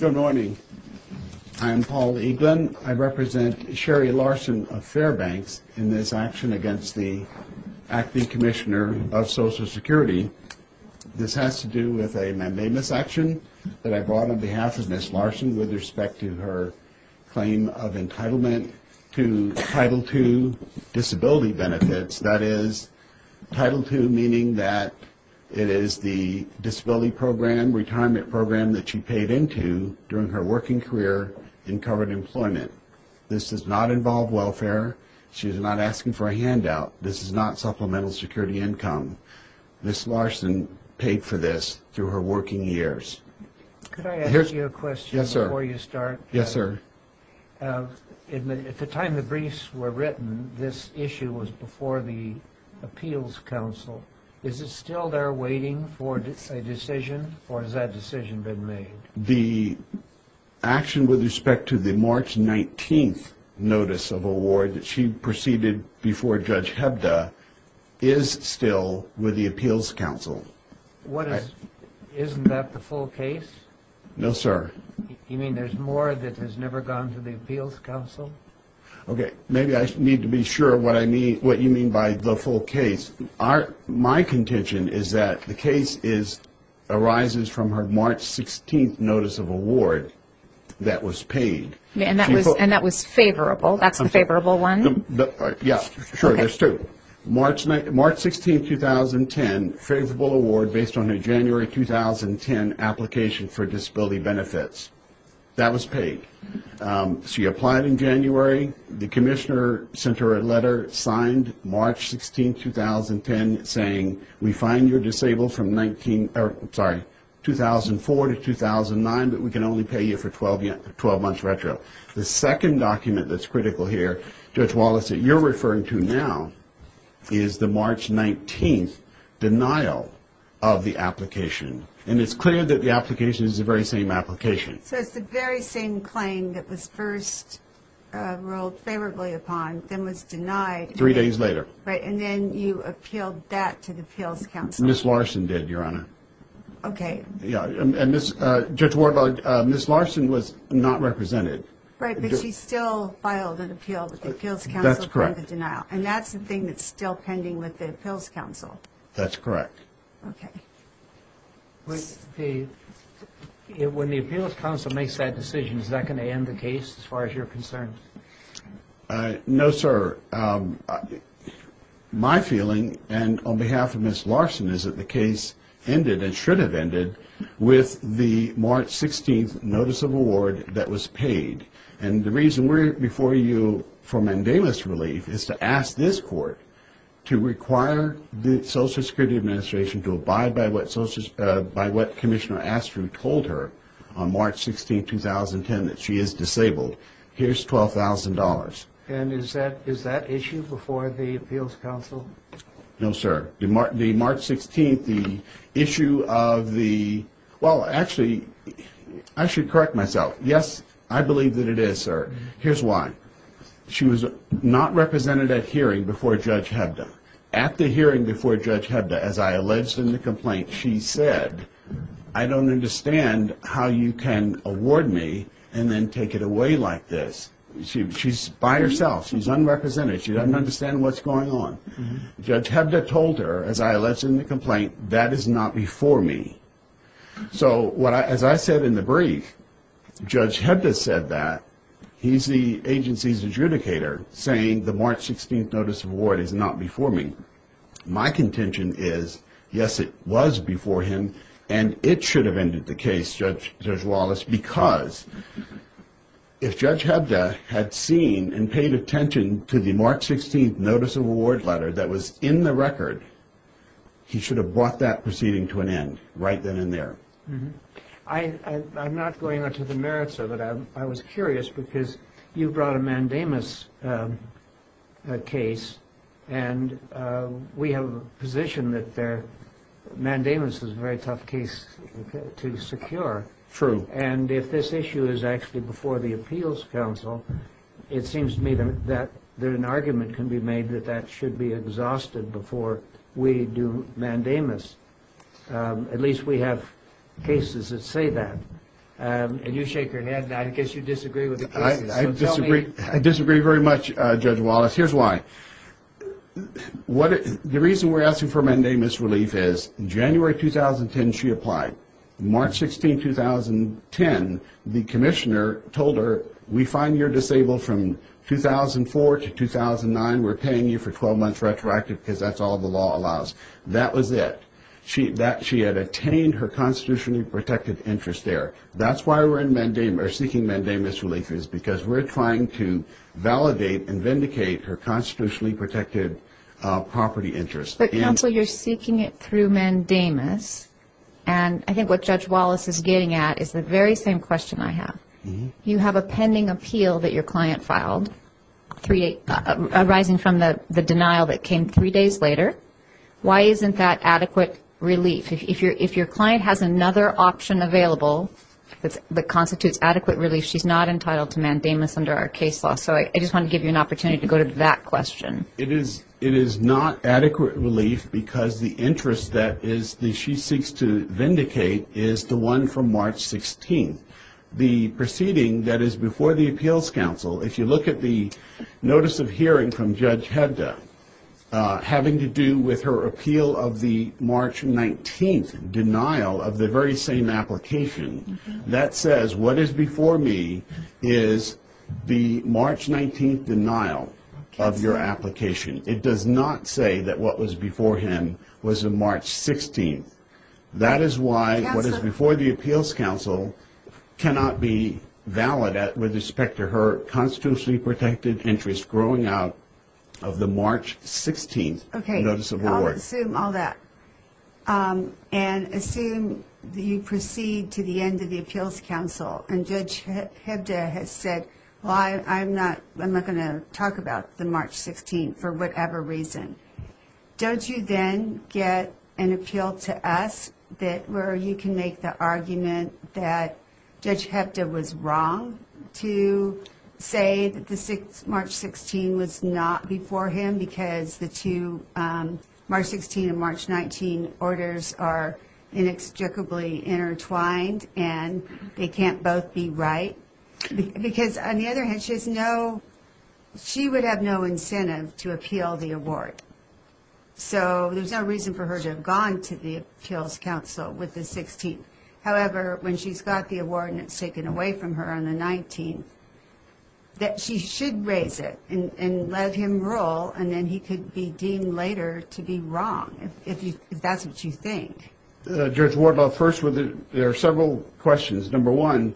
Good morning. I am Paul Eaglin. I represent Sherry Larson of Fairbanks in this action against the Acting Commissioner of Social Security. This has to do with a mandamus action that I brought on behalf of Ms. Larson with respect to her claim of entitlement to Title II disability benefits. That is, Title II meaning that it is the disability program, retirement program that she paid into during her working career in covered employment. This does not involve welfare. She is not asking for a handout. This is not supplemental security income. Ms. Larson paid for this through her working years. Could I ask you a question before you start? Yes, sir. At the time the briefs were written, this issue was before the Appeals Council. Is it still there waiting for a decision, or has that decision been made? The action with respect to the March 19th notice of award that she proceeded before Judge Hebda is still with the Appeals Council. Isn't that the full case? No, sir. You mean there is more that has never gone to the Appeals Council? Maybe I need to be sure what you mean by the full case. My contention is that the case arises from her March 16th notice of award that was paid. And that was favorable? That is the favorable one? Yes, sure, there is two. March 16th, 2010, favorable award based on her January 2010 application for disability benefits. That was paid. She applied in January. The commissioner sent her a letter signed March 16th, 2010, saying we fine your disabled from 2004 to 2009, but we can only pay you for 12 months retro. The second document that's critical here, Judge Wallace, that you're referring to now, is the March 19th denial of the application. And it's clear that the application is the very same application. So it's the very same claim that was first ruled favorably upon, then was denied. Three days later. Right, and then you appealed that to the Appeals Council. Ms. Larson did, Your Honor. Okay. Judge Ward, Ms. Larson was not represented. Right, but she still filed an appeal with the Appeals Council for the denial. That's correct. And that's the thing that's still pending with the Appeals Council? That's correct. Okay. When the Appeals Council makes that decision, is that going to end the case as far as you're concerned? No, sir. My feeling, and on behalf of Ms. Larson, is that the case ended and should have ended with the March 16th notice of award that was paid. And the reason we're before you for mandamus relief is to ask this court to require the Social Security Administration to abide by what Commissioner Astru told her on March 16th, 2010, that she is disabled. Here's $12,000. And is that issue before the Appeals Council? No, sir. The March 16th, the issue of the – well, actually, I should correct myself. Yes, I believe that it is, sir. Here's why. She was not represented at hearing before Judge Hebda. At the hearing before Judge Hebda, as I alleged in the complaint, she said, I don't understand how you can award me and then take it away like this. She's by herself. She's unrepresented. She doesn't understand what's going on. Judge Hebda told her, as I alleged in the complaint, that is not before me. So as I said in the brief, Judge Hebda said that. He's the agency's adjudicator, saying the March 16th notice of award is not before me. My contention is, yes, it was before him, and it should have ended the case, Judge Wallace, because if Judge Hebda had seen and paid attention to the March 16th notice of award letter that was in the record, he should have brought that proceeding to an end right then and there. I'm not going into the merits of it. I was curious because you brought a mandamus case, and we have a position that mandamus is a very tough case to secure. True. And if this issue is actually before the appeals council, it seems to me that an argument can be made that that should be exhausted before we do mandamus. At least we have cases that say that. And you shake your head, and I guess you disagree with the cases. I disagree very much, Judge Wallace. Here's why. The reason we're asking for mandamus relief is January 2010 she applied. March 16, 2010, the commissioner told her, we find you're disabled from 2004 to 2009. We're paying you for 12 months retroactive because that's all the law allows. That was it. She had attained her constitutionally protected interest there. That's why we're seeking mandamus relief is because we're trying to validate and vindicate her constitutionally protected property interest. But, counsel, you're seeking it through mandamus, and I think what Judge Wallace is getting at is the very same question I have. You have a pending appeal that your client filed arising from the denial that came three days later. Why isn't that adequate relief? If your client has another option available that constitutes adequate relief, she's not entitled to mandamus under our case law. So I just want to give you an opportunity to go to that question. It is not adequate relief because the interest that she seeks to vindicate is the one from March 16. The proceeding that is before the appeals council, if you look at the notice of hearing from Judge Hebda having to do with her appeal of the March 19th denial of the very same application, that says what is before me is the March 19th denial of your application. It does not say that what was before him was on March 16th. That is why what is before the appeals council cannot be valid with respect to her constitutionally protected interest growing out of the March 16th notice of award. Okay. I'll assume all that. And assume that you proceed to the end of the appeals council, and Judge Hebda has said, well, I'm not going to talk about the March 16th for whatever reason. Don't you then get an appeal to us where you can make the argument that Judge Hebda was wrong to say that March 16th was not before him because the two March 16th and March 19th orders are inextricably intertwined and they can't both be right? Because on the other hand, she would have no incentive to appeal the award. So there's no reason for her to have gone to the appeals council with the 16th. However, when she's got the award and it's taken away from her on the 19th, that she should raise it and let him rule, and then he could be deemed later to be wrong, if that's what you think. Judge Wardlaw, first, there are several questions. Number one,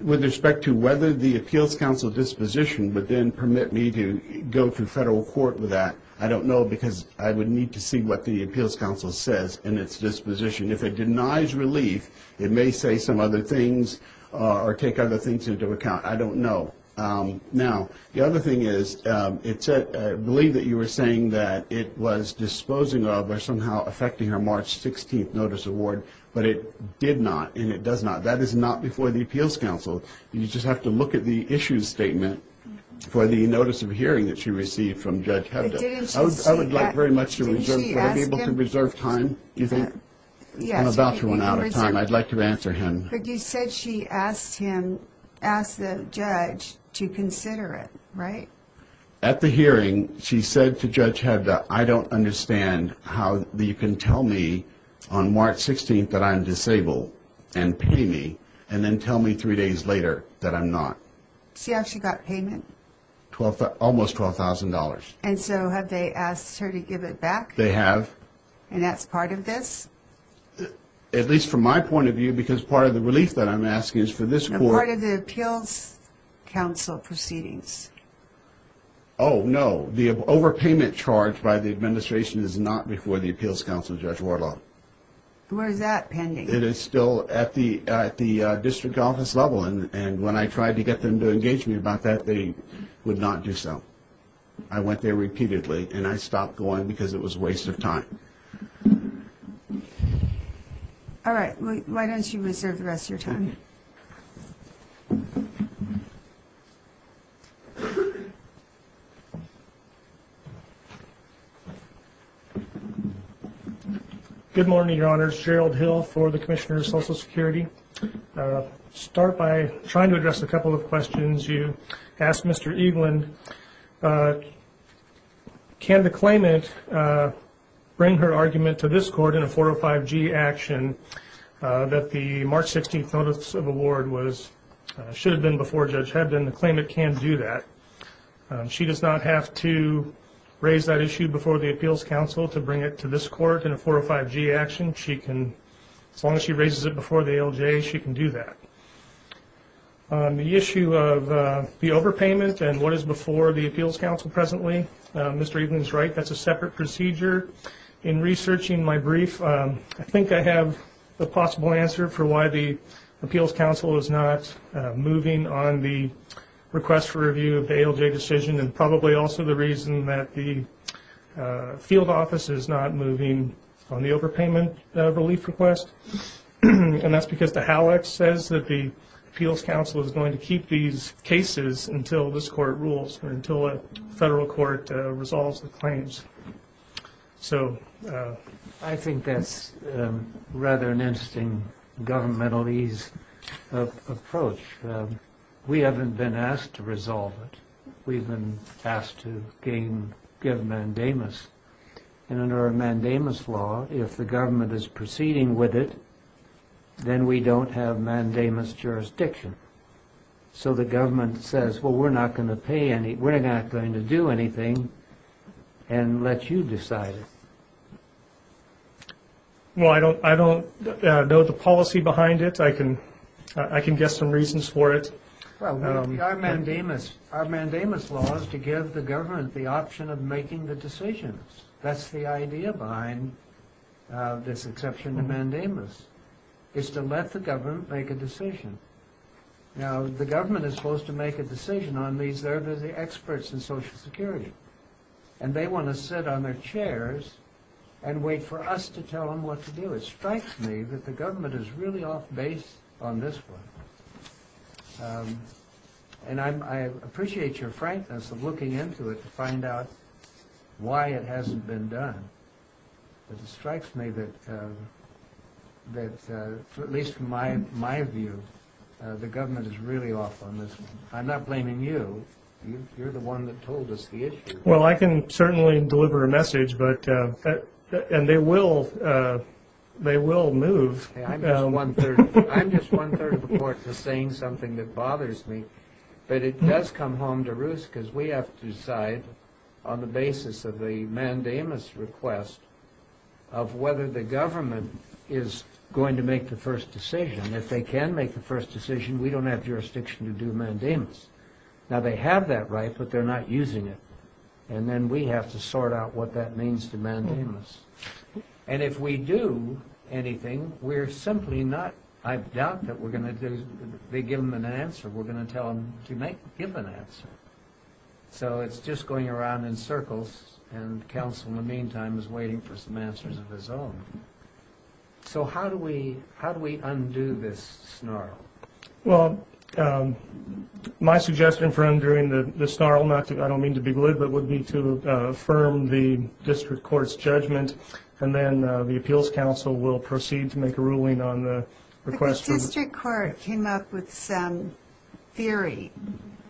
with respect to whether the appeals council disposition would then permit me to go to federal court with that, I don't know because I would need to see what the appeals council says in its disposition. If it denies relief, it may say some other things or take other things into account. I don't know. Now, the other thing is I believe that you were saying that it was disposing of or somehow affecting her March 16th notice award, but it did not and it does not. That is not before the appeals council. You just have to look at the issues statement for the notice of hearing that she received from Judge Hebda. I would like very much to reserve time. I'm about to run out of time. I'd like to answer him. But you said she asked him, asked the judge to consider it, right? At the hearing, she said to Judge Hebda, I don't understand how you can tell me on March 16th that I'm disabled and pay me and then tell me three days later that I'm not. See how she got payment? Almost $12,000. And so have they asked her to give it back? They have. And that's part of this? At least from my point of view, because part of the relief that I'm asking is for this court. Part of the appeals council proceedings. Oh, no. The overpayment charge by the administration is not before the appeals council, Judge Warlock. Where is that pending? It is still at the district office level. And when I tried to get them to engage me about that, they would not do so. I went there repeatedly, and I stopped going because it was a waste of time. All right. Why don't you reserve the rest of your time? Good morning, Your Honors. Gerald Hill for the Commissioner of Social Security. I'll start by trying to address a couple of questions you asked Mr. Eaglin. Can the claimant bring her argument to this court in a 405G action that the March 16th notice of award should have been before Judge Hebdon? The claimant can do that. She does not have to raise that issue before the appeals council to bring it to this court in a 405G action. As long as she raises it before the ALJ, she can do that. The issue of the overpayment and what is before the appeals council presently, Mr. Eaglin is right. That's a separate procedure. In researching my brief, I think I have the possible answer for why the appeals council is not moving on the request for review of the ALJ decision and probably also the reason that the field office is not moving on the overpayment relief request, and that's because the HALAC says that the appeals council is going to keep these cases until this court rules or until a federal court resolves the claims. I think that's rather an interesting governmentalese approach. We haven't been asked to resolve it. We've been asked to give mandamus, and under a mandamus law, if the government is proceeding with it, then we don't have mandamus jurisdiction. So the government says, well, we're not going to do anything unless you decide it. Well, I don't know the policy behind it. I can guess some reasons for it. Well, our mandamus law is to give the government the option of making the decisions. That's the idea behind this exception to mandamus is to let the government make a decision. Now, the government is supposed to make a decision on these. They're the experts in Social Security, and they want to sit on their chairs and wait for us to tell them what to do. So it strikes me that the government is really off base on this one. And I appreciate your frankness of looking into it to find out why it hasn't been done. But it strikes me that, at least from my view, the government is really off on this one. I'm not blaming you. You're the one that told us the issue. Well, I can certainly deliver a message, and they will move. I'm just one-third of the court to saying something that bothers me. But it does come home to roost because we have to decide on the basis of the mandamus request of whether the government is going to make the first decision. If they can make the first decision, we don't have jurisdiction to do mandamus. Now, they have that right, but they're not using it. And then we have to sort out what that means to mandamus. And if we do anything, we're simply not – I doubt that we're going to do – they give them an answer. We're going to tell them to give an answer. So it's just going around in circles, and counsel, in the meantime, is waiting for some answers of his own. So how do we undo this snarl? Well, my suggestion for undoing the snarl, not to – I don't mean to be glib, but would be to affirm the district court's judgment, and then the appeals council will proceed to make a ruling on the request from the – But the district court came up with some theory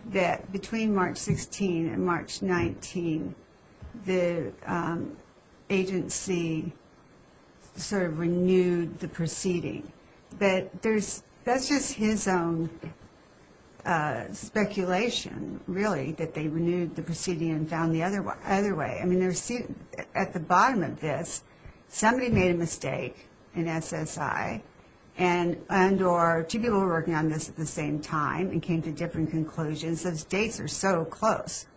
that between March 16 and March 19, the agency sort of renewed the proceeding. But that's just his own speculation, really, that they renewed the proceeding and found the other way. I mean, at the bottom of this, somebody made a mistake in SSI, and or two people were working on this at the same time and came to different conclusions. Those dates are so close.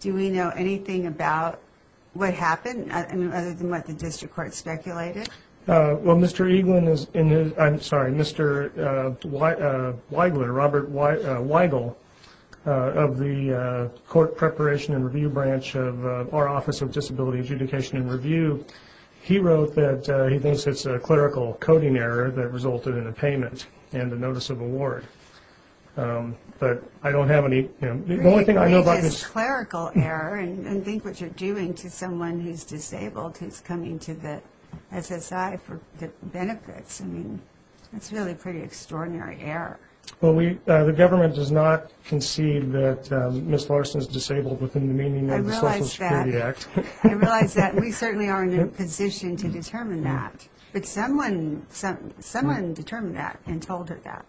Do we know anything about what happened other than what the district court speculated? Well, Mr. Eaglin is – I'm sorry, Mr. Weigel, Robert Weigel, of the Court Preparation and Review Branch of our Office of Disability Adjudication and Review, he wrote that he thinks it's a clerical coding error that resulted in a payment and a notice of award. But I don't have any – the only thing I know about this – and think what you're doing to someone who's disabled who's coming to the SSI for benefits. I mean, that's really a pretty extraordinary error. Well, we – the government does not concede that Ms. Larson is disabled within the meaning of the Social Security Act. I realize that. I realize that. We certainly are in a position to determine that. But someone determined that and told her that.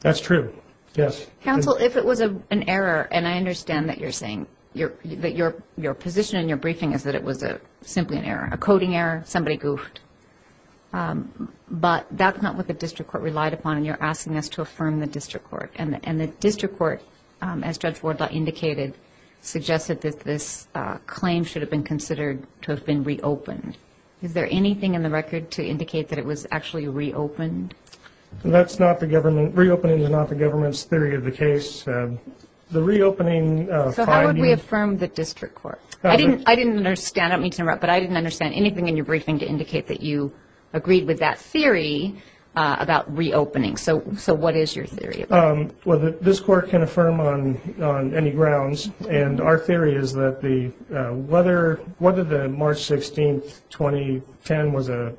That's true. Yes. Counsel, if it was an error – and I understand that you're saying – that your position in your briefing is that it was simply an error, a coding error, somebody goofed. But that's not what the district court relied upon, and you're asking us to affirm the district court. And the district court, as Judge Wardlaw indicated, suggested that this claim should have been considered to have been reopened. Is there anything in the record to indicate that it was actually reopened? That's not the government – reopening is not the government's theory of the case. The reopening finding – So how would we affirm the district court? I didn't understand. I don't mean to interrupt. But I didn't understand anything in your briefing to indicate that you agreed with that theory about reopening. So what is your theory? Well, this court can affirm on any grounds. And our theory is that whether the March 16, 2010, was an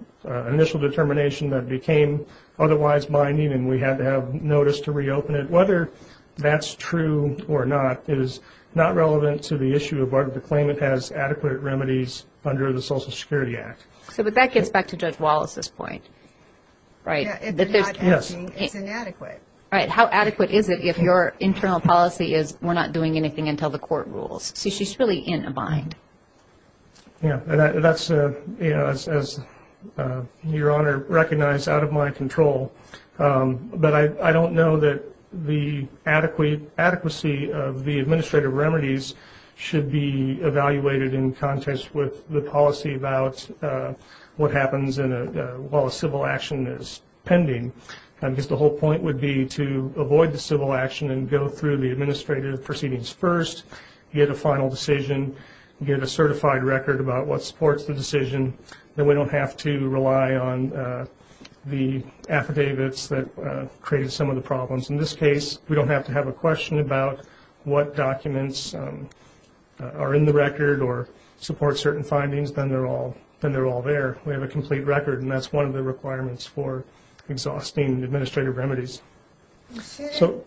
initial determination that became otherwise binding and we had to have notice to reopen it, whether that's true or not is not relevant to the issue of whether the claimant has adequate remedies under the Social Security Act. So that gets back to Judge Wallace's point, right? Yes. It's inadequate. Right. How adequate is it if your internal policy is we're not doing anything until the court rules? So she's really in a bind. Yeah. And that's, you know, as Your Honor recognized, out of my control. But I don't know that the adequacy of the administrative remedies should be evaluated in context with the policy about what happens while a civil action is pending. I guess the whole point would be to avoid the civil action and go through the administrative proceedings first, get a final decision, get a certified record about what supports the decision. Then we don't have to rely on the affidavits that created some of the problems. In this case, we don't have to have a question about what documents are in the record or support certain findings, then they're all there. We have a complete record, and that's one of the requirements for exhausting administrative remedies. Shouldn't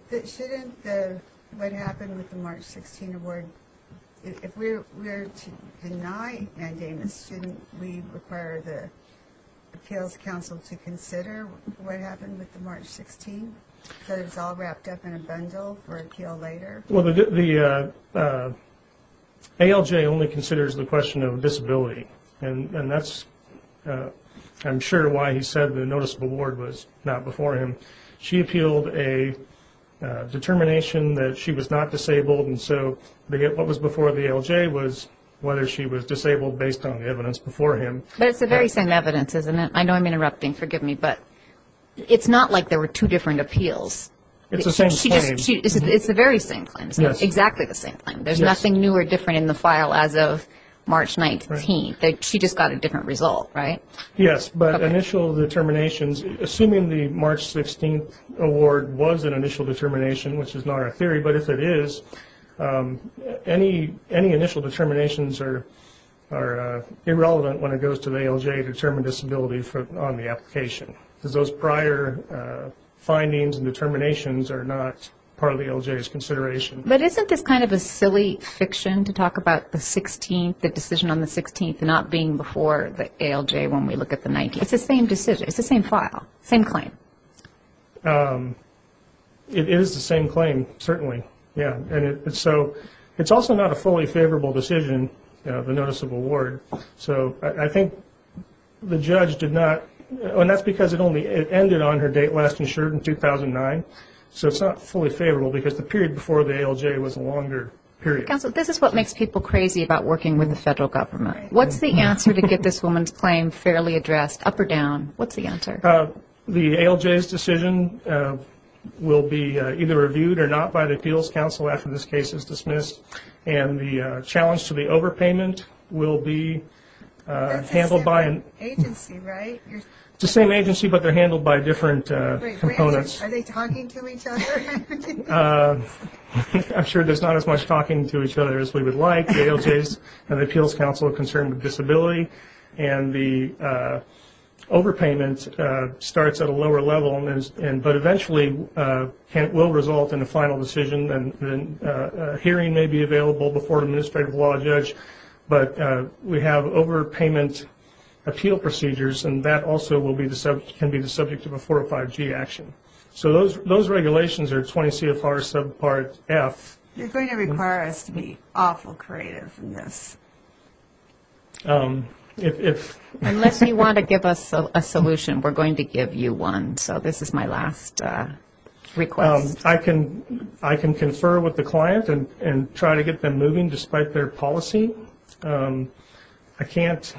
what happened with the March 16 award, if we're to deny mandamus, shouldn't we require the Appeals Council to consider what happened with the March 16, that it's all wrapped up in a bundle for appeal later? Well, the ALJ only considers the question of disability, and that's I'm sure why he said the notice of award was not before him. She appealed a determination that she was not disabled, and so what was before the ALJ was whether she was disabled based on the evidence before him. But it's the very same evidence, isn't it? I know I'm interrupting, forgive me, but it's not like there were two different appeals. It's the same claim. It's the very same claim, exactly the same claim. There's nothing new or different in the file as of March 19. She just got a different result, right? Yes, but initial determinations, assuming the March 16 award was an initial determination, which is not our theory, but if it is, any initial determinations are irrelevant when it goes to the ALJ to determine disability on the application because those prior findings and determinations are not part of the ALJ's consideration. But isn't this kind of a silly fiction to talk about the 16th, the decision on the 16th, not being before the ALJ when we look at the 19th? It's the same decision. It's the same file, same claim. It is the same claim, certainly. So it's also not a fully favorable decision, the notice of award. I think the judge did not, and that's because it ended on her date last insured in 2009, so it's not fully favorable because the period before the ALJ was a longer period. Counsel, this is what makes people crazy about working with the federal government. What's the answer to get this woman's claim fairly addressed, up or down? What's the answer? The ALJ's decision will be either reviewed or not by the appeals counsel after this case is dismissed, and the challenge to the overpayment will be handled by an agency, right? It's the same agency, but they're handled by different components. Are they talking to each other? I'm sure there's not as much talking to each other as we would like. The ALJs and the appeals counsel are concerned with disability, and the overpayment starts at a lower level, but eventually will result in a final decision. A hearing may be available before an administrative law judge, but we have overpayment appeal procedures, and that also can be the subject of a 405G action. So those regulations are 20 CFR subpart F. You're going to require us to be awful creative in this. Unless you want to give us a solution, we're going to give you one. So this is my last request. I can confer with the client and try to get them moving despite their policy. I can't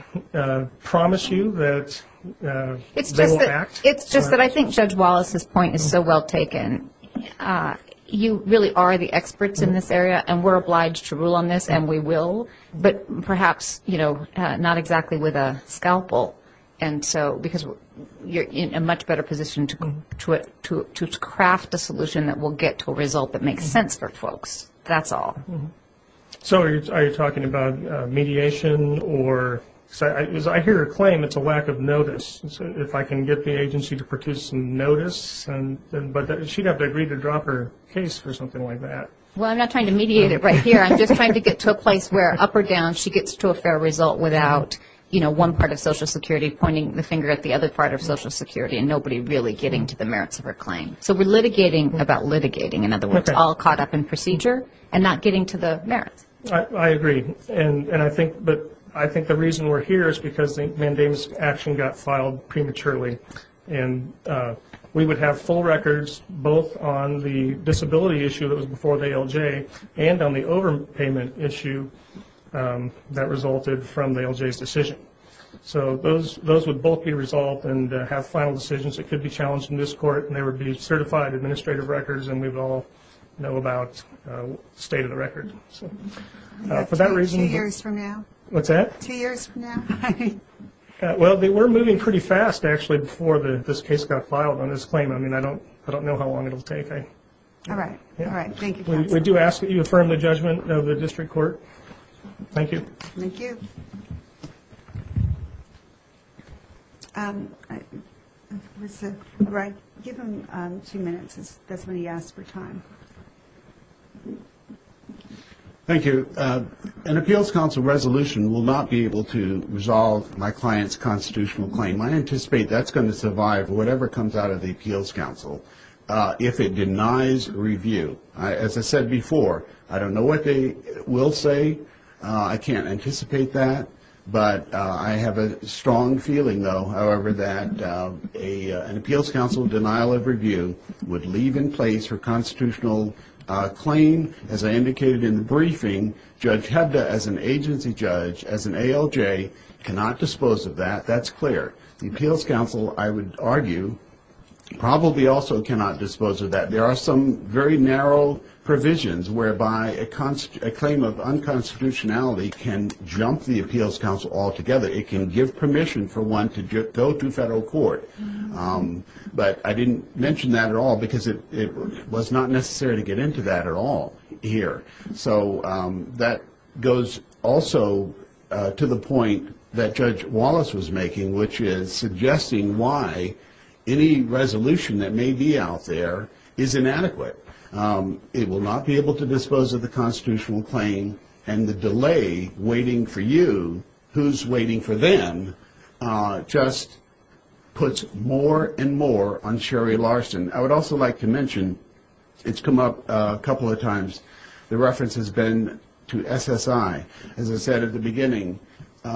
promise you that they will act. It's just that I think Judge Wallace's point is so well taken. You really are the experts in this area, and we're obliged to rule on this, and we will, but perhaps not exactly with a scalpel, because you're in a much better position to craft a solution that will get to a result that makes sense for folks. That's all. So are you talking about mediation? I hear her claim it's a lack of notice. If I can get the agency to produce some notice, but she'd have to agree to drop her case or something like that. Well, I'm not trying to mediate it right here. I'm just trying to get to a place where, up or down, she gets to a fair result without one part of Social Security pointing the finger at the other part of Social Security and nobody really getting to the merits of her claim. So we're litigating about litigating. In other words, all caught up in procedure and not getting to the merits. I agree. But I think the reason we're here is because the mandamus action got filed prematurely, and we would have full records both on the disability issue that was before the ALJ and on the overpayment issue that resulted from the ALJ's decision. So those would both be resolved and have final decisions that could be challenged in this court, and they would be certified administrative records, and we would all know about state of the record. Two years from now. What's that? Two years from now. Well, we're moving pretty fast, actually, before this case got filed on this claim. I mean, I don't know how long it will take. Okay. All right. All right. Thank you, counsel. We do ask that you affirm the judgment of the district court. Thank you. Thank you. Give him two minutes. That's when he asked for time. Thank you. An appeals council resolution will not be able to resolve my client's constitutional claim. I anticipate that's going to survive whatever comes out of the appeals council if it denies review. As I said before, I don't know what they will say. I can't anticipate that. But I have a strong feeling, though, however, that an appeals council denial of review would leave in place her constitutional claim. As I indicated in the briefing, Judge Hebda, as an agency judge, as an ALJ, cannot dispose of that. That's clear. The appeals council, I would argue, probably also cannot dispose of that. There are some very narrow provisions whereby a claim of unconstitutionality can jump the appeals council altogether. It can give permission for one to go to federal court. But I didn't mention that at all because it was not necessary to get into that at all here. So that goes also to the point that Judge Wallace was making, which is suggesting why any resolution that may be out there is inadequate. It will not be able to dispose of the constitutional claim, and the delay waiting for you, who's waiting for them, just puts more and more on Sherry Larson. I would also like to mention, it's come up a couple of times, the reference has been to SSI. As I said at the beginning,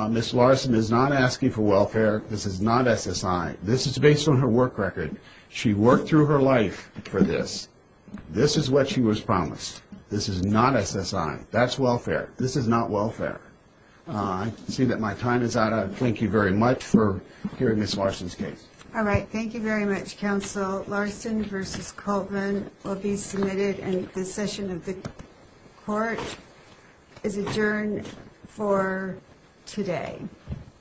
Ms. Larson is not asking for welfare. This is not SSI. This is based on her work record. She worked through her life for this. This is what she was promised. This is not SSI. That's welfare. This is not welfare. I see that my time is out. Thank you very much for hearing Ms. Larson's case. All right. Thank you very much, Counsel. Larson v. Coleman will be submitted, and this session of the court is adjourned for today.